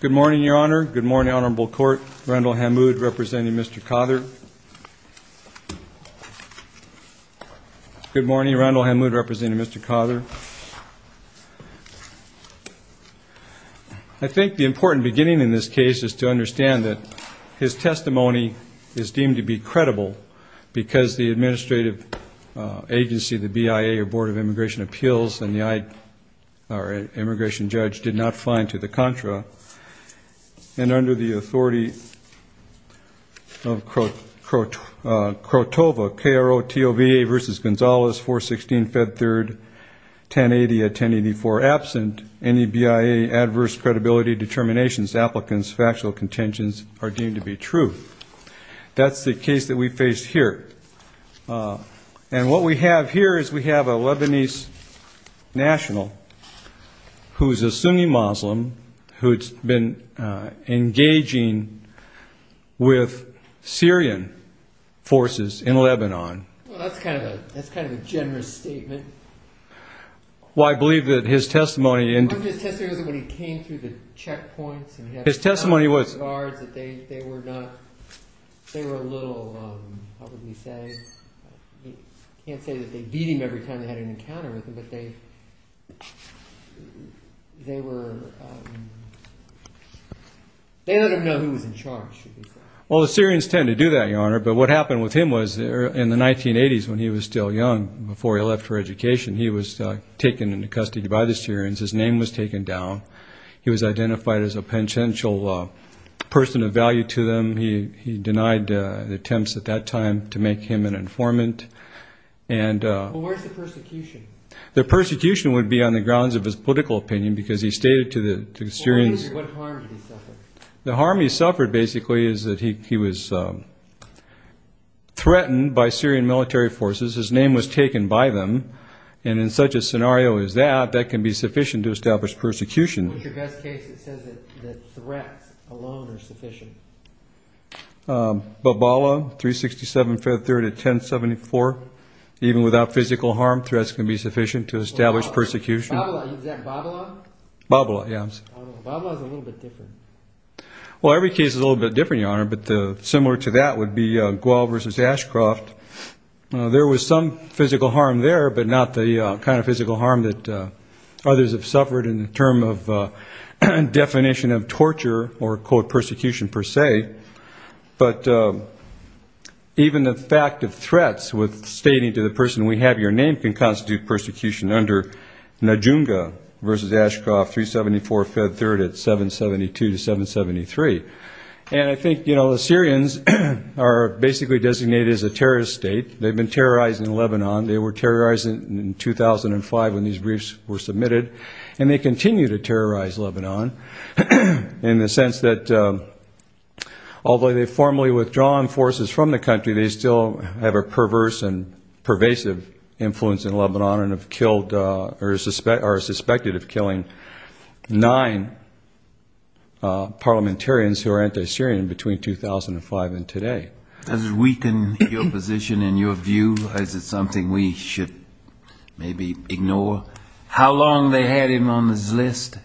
Good morning, Your Honor. Good morning, Honorable Court. Randall Hammoud, representing Mr. Cother. Good morning. Randall Hammoud, representing Mr. Cother. I think the important beginning in this case is to understand that his testimony is deemed to be credible because the administrative agency, the BIA, or Board of Immigration Appeals, and the immigration judge did not find to the contra. And under the authority of KROTOVA, K-R-O-T-O-V-A v. Gonzales, 416 Fed 3rd, 1080 at 1084 absent, any BIA adverse credibility determinations, applicants, factual contentions are deemed to be true. That's the case that we face here. And what we have here is we have a Lebanese national who's a Sunni Muslim who's been engaging with Syrian forces in Lebanon. Well, that's kind of a generous statement. Well, I believe that his testimony... His testimony was when he came through the checkpoints... His testimony was... They were a little, how would we say? I can't say that they beat him every time they had an encounter with him, but they were... They don't even know who was in charge, should we say. Well, the Syrians tend to do that, Your Honor. But what happened with him was in the 1980s when he was still young, before he left for education, he was taken into custody by the Syrians. His name was taken down. He was identified as a potential person of value to them. He denied attempts at that time to make him an informant. Well, where's the persecution? The persecution would be on the grounds of his political opinion because he stated to the Syrians... Well, what harm did he suffer? The harm he suffered, basically, is that he was threatened by Syrian military forces. His name was taken by them. And in such a scenario as that, that can be sufficient to establish persecution. What's your best case that says that threats alone are sufficient? Babila, 367 Feb. 3rd at 1074. Even without physical harm, threats can be sufficient to establish persecution. Is that Babila? Babila, yes. Babila is a little bit different. Well, every case is a little bit different, Your Honor. But similar to that would be Gual versus Ashcroft. There was some physical harm there, but not the kind of physical harm that others have suffered in the term of definition of torture or, quote, persecution per se. But even the fact of threats with stating to the person, we have your name, can constitute persecution under Najunga versus Ashcroft, 374 Feb. 3rd at 772 to 773. And I think, you know, the Syrians are basically designated as a terrorist state. They've been terrorizing Lebanon. They were terrorizing in 2005 when these briefs were submitted. And they continue to terrorize Lebanon in the sense that, although they've formally withdrawn forces from the country, they still have a perverse and pervasive influence in Lebanon and are suspected of killing nine parliamentarians who are anti-Syrian between 2005 and today. Does it weaken your position and your view? Is it something we should maybe ignore? How long they had him on this list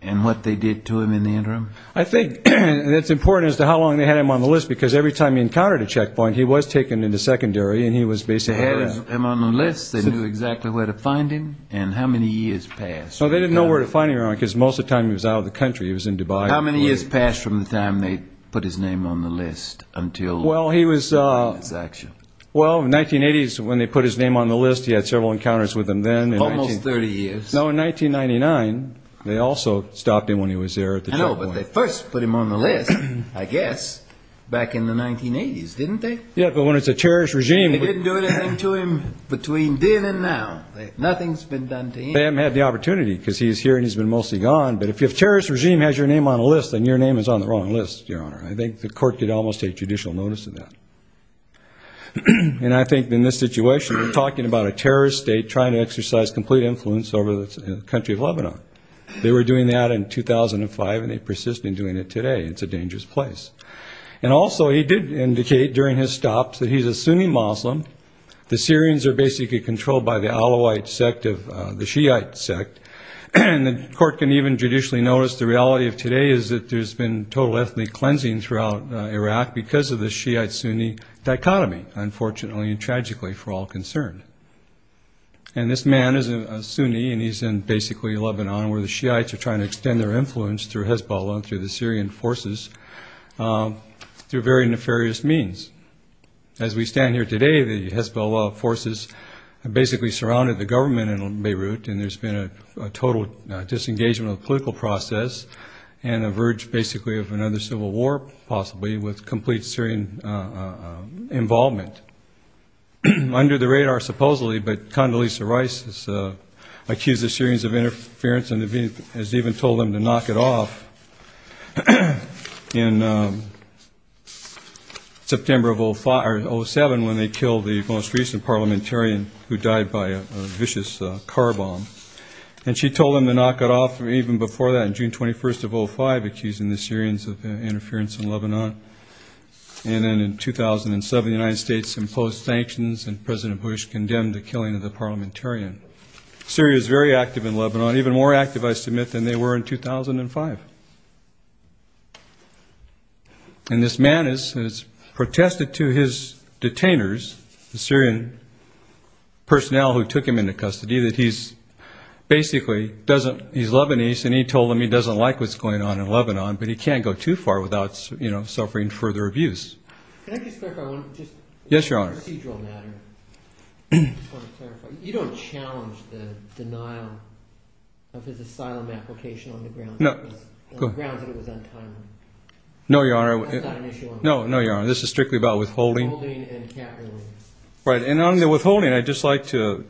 and what they did to him in the interim? I think that's important as to how long they had him on the list, because every time he encountered a checkpoint, he was taken into secondary and he was basically... They put him on the list. They knew exactly where to find him. And how many years passed? Well, they didn't know where to find him because most of the time he was out of the country. He was in Dubai. How many years passed from the time they put his name on the list until his action? Well, in the 1980s, when they put his name on the list, he had several encounters with them then. Almost 30 years. No, in 1999, they also stopped him when he was there at the checkpoint. I know, but they first put him on the list, I guess, back in the 1980s, didn't they? Yeah, but when it's a terrorist regime... They didn't do anything to him between then and now. Nothing's been done to him. They haven't had the opportunity because he's here and he's been mostly gone. But if a terrorist regime has your name on a list, then your name is on the wrong list, Your Honor. I think the court could almost take judicial notice of that. And I think in this situation, we're talking about a terrorist state trying to exercise complete influence over the country of Lebanon. They were doing that in 2005 and they persist in doing it today. It's a dangerous place. And also, he did indicate during his stop that he's a Sunni Muslim. The Syrians are basically controlled by the Alawite sect of the Shiite sect. And the court can even judicially notice the reality of today is that there's been total ethnic cleansing throughout Iraq because of the Shiite-Sunni dichotomy, unfortunately and tragically for all concerned. And this man is a Sunni and he's in, basically, Lebanon, where the Shiites are trying to extend their influence through Hezbollah and through the Syrian forces through very nefarious means. As we stand here today, the Hezbollah forces have basically surrounded the government in Beirut and there's been a total disengagement of the political process and a verge, basically, of another civil war, possibly, with complete Syrian involvement. Under the radar, supposedly, but Condoleezza Rice has accused the Syrians of interference and has even told them to knock it off in September of 2007 when they killed the most recent parliamentarian who died by a vicious car bomb. And she told them to knock it off even before that in June 21st of 2005, accusing the Syrians of interference in Lebanon. And then in 2007, the United States imposed sanctions and President Bush condemned the killing of the parliamentarian. Syria is very active in Lebanon, even more active, I submit, than they were in 2005. And this man has protested to his detainers, the Syrian personnel who took him into custody, that he's basically, he's Lebanese and he told them he doesn't like what's going on in Lebanon, but he can't go too far without suffering further abuse. Yes, Your Honor. No, Your Honor. No, Your Honor, this is strictly about withholding. Right, and on the withholding, I'd just like to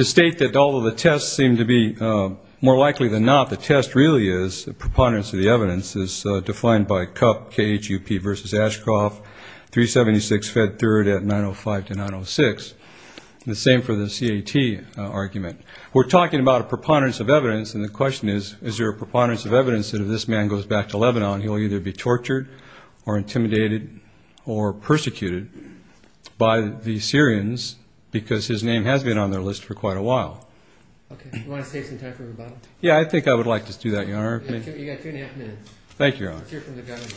state that although the tests seem to be more likely than not, the test really is, the preponderance of the evidence is defined by CUP, K-H-U-P versus Ashcroft, 376 Fed Third at 905 to 906. The same for the C-A-T argument. We're talking about a preponderance of evidence and the question is, is there a preponderance of evidence that if this man goes back to Lebanon, he'll either be tortured or intimidated or persecuted by the Syrians because his name has been on their list for quite a while. Okay, do you want to save some time for rebuttal? Yeah, I think I would like to do that, Your Honor. You've got two and a half minutes. Thank you, Your Honor. Let's hear from the government.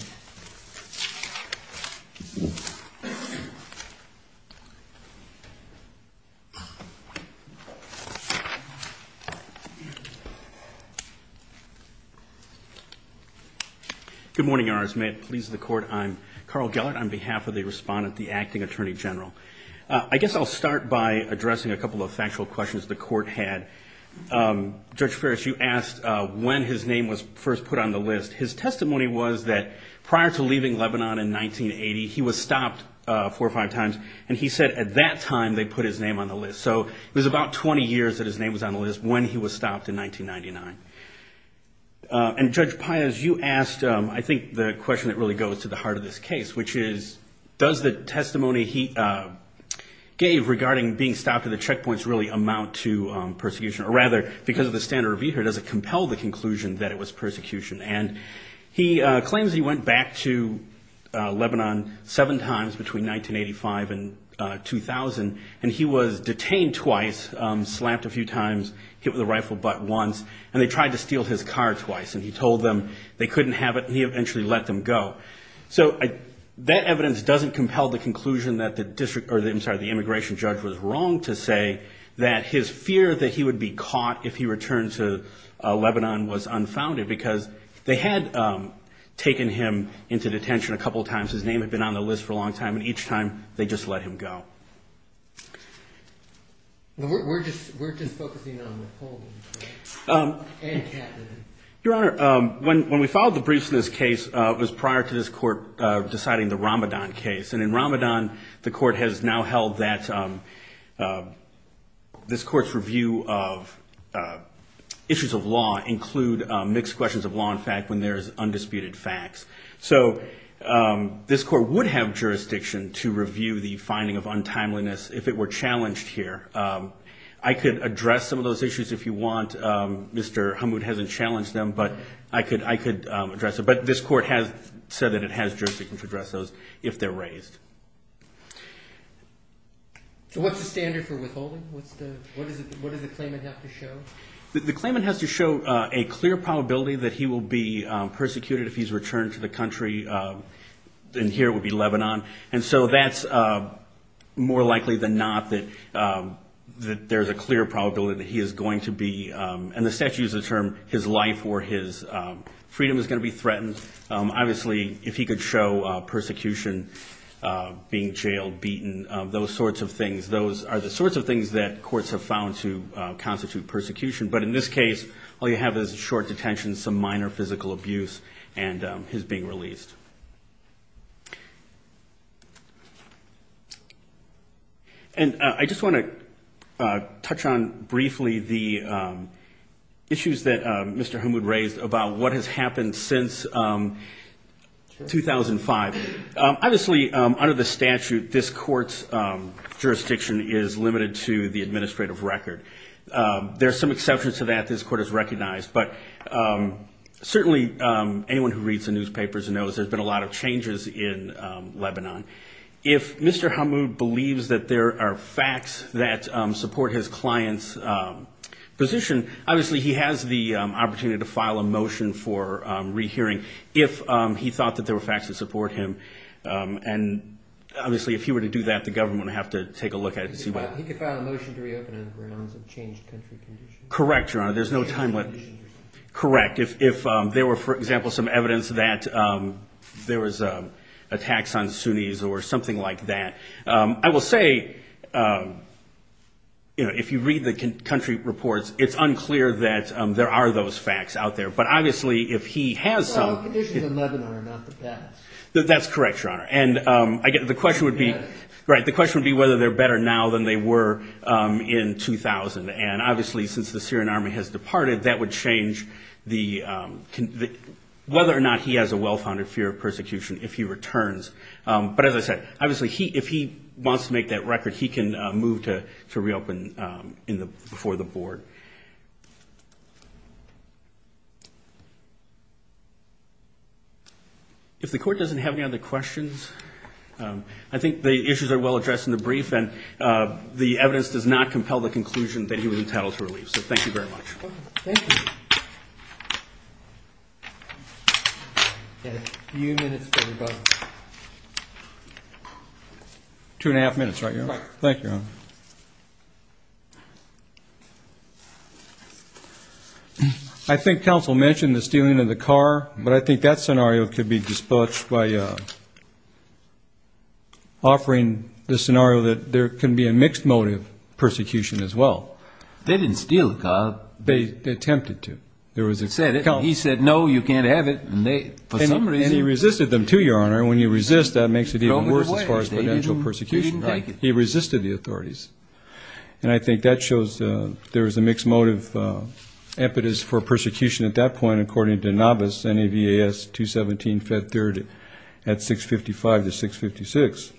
Good morning, Your Honors. May it please the Court, I'm Carl Gellert on behalf of the respondent, the Acting Attorney General. I guess I'll start by addressing a couple of factual questions the Court had. Judge Ferris, you asked when his name was first put on the list. His testimony was that prior to leaving Lebanon in 1980, he was stopped four or five times, and he said at that time they put his name on the list. So it was about 20 years that his name was on the list when he was stopped in 1999. And Judge Pius, you asked, I think, the question that really goes to the heart of this case, which is, does the testimony he gave regarding being stopped at the checkpoints really amount to persecution? Or rather, because of the standard review here, does it compel the conclusion that it was persecution? And he claims he went back to Lebanon seven times between 1985 and 2000, and he was detained twice, slapped a few times, hit with a rifle butt once, and they tried to steal his car twice. And he told them they couldn't have it, and he eventually let them go. So that evidence doesn't compel the conclusion that the Immigration Judge was wrong to say that his fear that he would be caught if he returned to Lebanon was unfounded, because they had taken him into detention a couple of times. His name had been on the list for a long time, and each time they just let him go. We're just focusing on Napoleon and Catherine. Your Honor, when we filed the briefs in this case, it was prior to this Court deciding the Ramadan case. And in Ramadan, the Court has now held that this Court's review of issues of law include mixed questions of law and fact when there is undisputed facts. So this Court would have jurisdiction to review the finding of untimeliness if it were challenged here. I could address some of those issues if you want. Mr. Hammoud hasn't challenged them, but I could address them. But this Court has said that it has jurisdiction to address those if they're raised. So what's the standard for withholding? What does the claimant have to show? The claimant has to show a clear probability that he will be persecuted if he's returned to the country, and here it would be Lebanon. And so that's more likely than not that there's a clear probability that he is going to be, and the statute uses the term, his life or his freedom is going to be threatened. Obviously, if he could show persecution, being jailed, beaten, those sorts of things, those are the sorts of things that courts have found to constitute persecution. But in this case, all you have is a short detention, some minor physical abuse, and his being released. And I just want to touch on briefly the issues that Mr. Hammoud raised about what has happened since 2005. Obviously, under the statute, this Court's jurisdiction is limited to the administrative record. There are some exceptions to that this Court has recognized, but certainly anyone who reads the newspapers knows there's been a lot of changes in Lebanon. If Mr. Hammoud believes that there are facts that support his client's position, obviously, he has the opportunity to file a motion for rehearing if he thought that there were facts that support him. And obviously, if he were to do that, the government would have to take a look at it to see what... He could file a motion to reopen on grounds of changed country conditions. Correct, Your Honor. There's no time limit. Correct. If there were, for example, some evidence that there was attacks on Sunnis or something like that, I will say, if you read the country reports, it's unclear that there are those facts out there. But obviously, if he has some... That's correct, Your Honor. And the question would be whether they're better now than they were in 2000. And obviously, since the Syrian army has departed, that would change whether or not he has a well-founded fear of persecution if he returns. But as I said, obviously, if he wants to make that record, he can move to reopen before the board. If the Court doesn't have any other questions, I think the issues are well addressed in the brief, and the evidence does not compel the conclusion that he was entitled to relief. So thank you very much. Thank you. Two and a half minutes, right, Your Honor? Right. Thank you, Your Honor. I think counsel mentioned the stealing of the car, but I think that scenario could be dispatched by offering the scenario that there can be a mixed motive persecution as well. They didn't steal the car. They attempted to. He said, no, you can't have it. And he resisted them, too, Your Honor. And when you resist, that makes it even worse as far as potential persecution. He resisted the authorities. And I think that shows there is a mixed motive impetus for persecution at that point, according to Navas, NAVAS 217, Fed 3rd, at 655 to 656.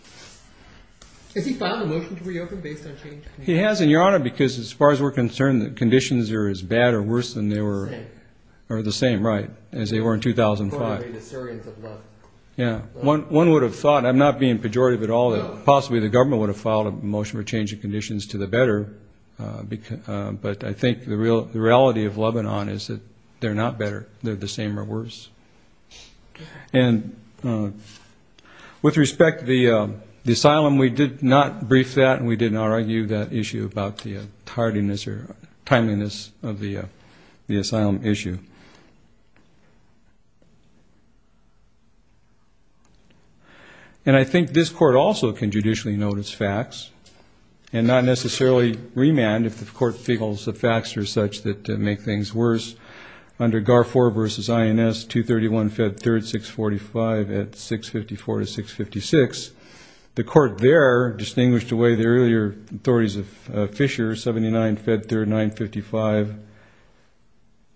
Has he filed a motion to reopen based on change of conditions? He has, and, Your Honor, because as far as we're concerned, the conditions are as bad or worse than they were, or the same, right, as they were in 2005. According to the Syrians of Lebanon. Yeah. One would have thought, I'm not being pejorative at all, that possibly the government would have filed a motion for change of conditions to the better, but I think the reality of Lebanon is that they're not better. They're the same or worse. And with respect to the asylum, we did not brief that, and we did not argue that issue about the tardiness or timeliness of the asylum issue. And I think this court also can judicially notice facts, and not necessarily remand if the court feels the facts are such that make things worse. Under Garford v. INS, 231, Fed 3rd, 645, at 654 to 656, the court there distinguished away the earlier authorities of Fisher, 79, Fed 3rd, 955,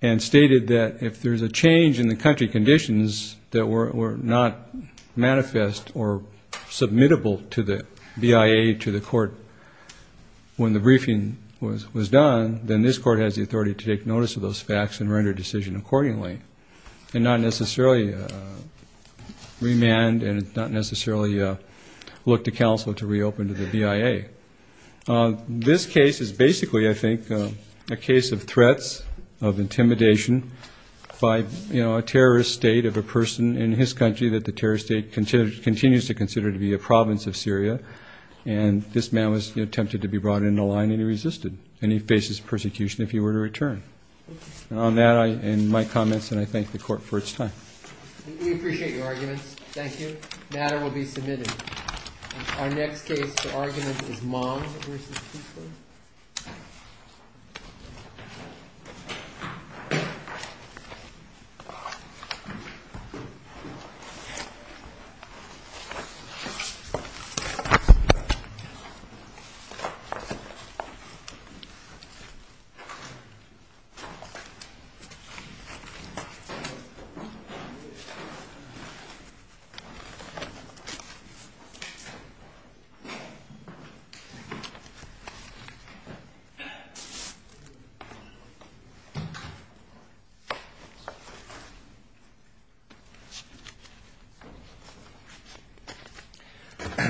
and stated that if there's a change in the country conditions that were not manifest or submittable to the BIA to the court when the briefing was done, then this court has the authority to take notice of those facts and render a decision accordingly, and not necessarily remand and not necessarily look to counsel to reopen to the BIA. This case is basically, I think, a case of threats of intimidation by, you know, a terrorist state of a person in his country that the terrorist state continues to consider to be a province of Syria, and this man was tempted to be brought into line, and he resisted, and he faces persecution if he were to return. And on that, in my comments, and I thank the court for its time. Thank you. Thank you.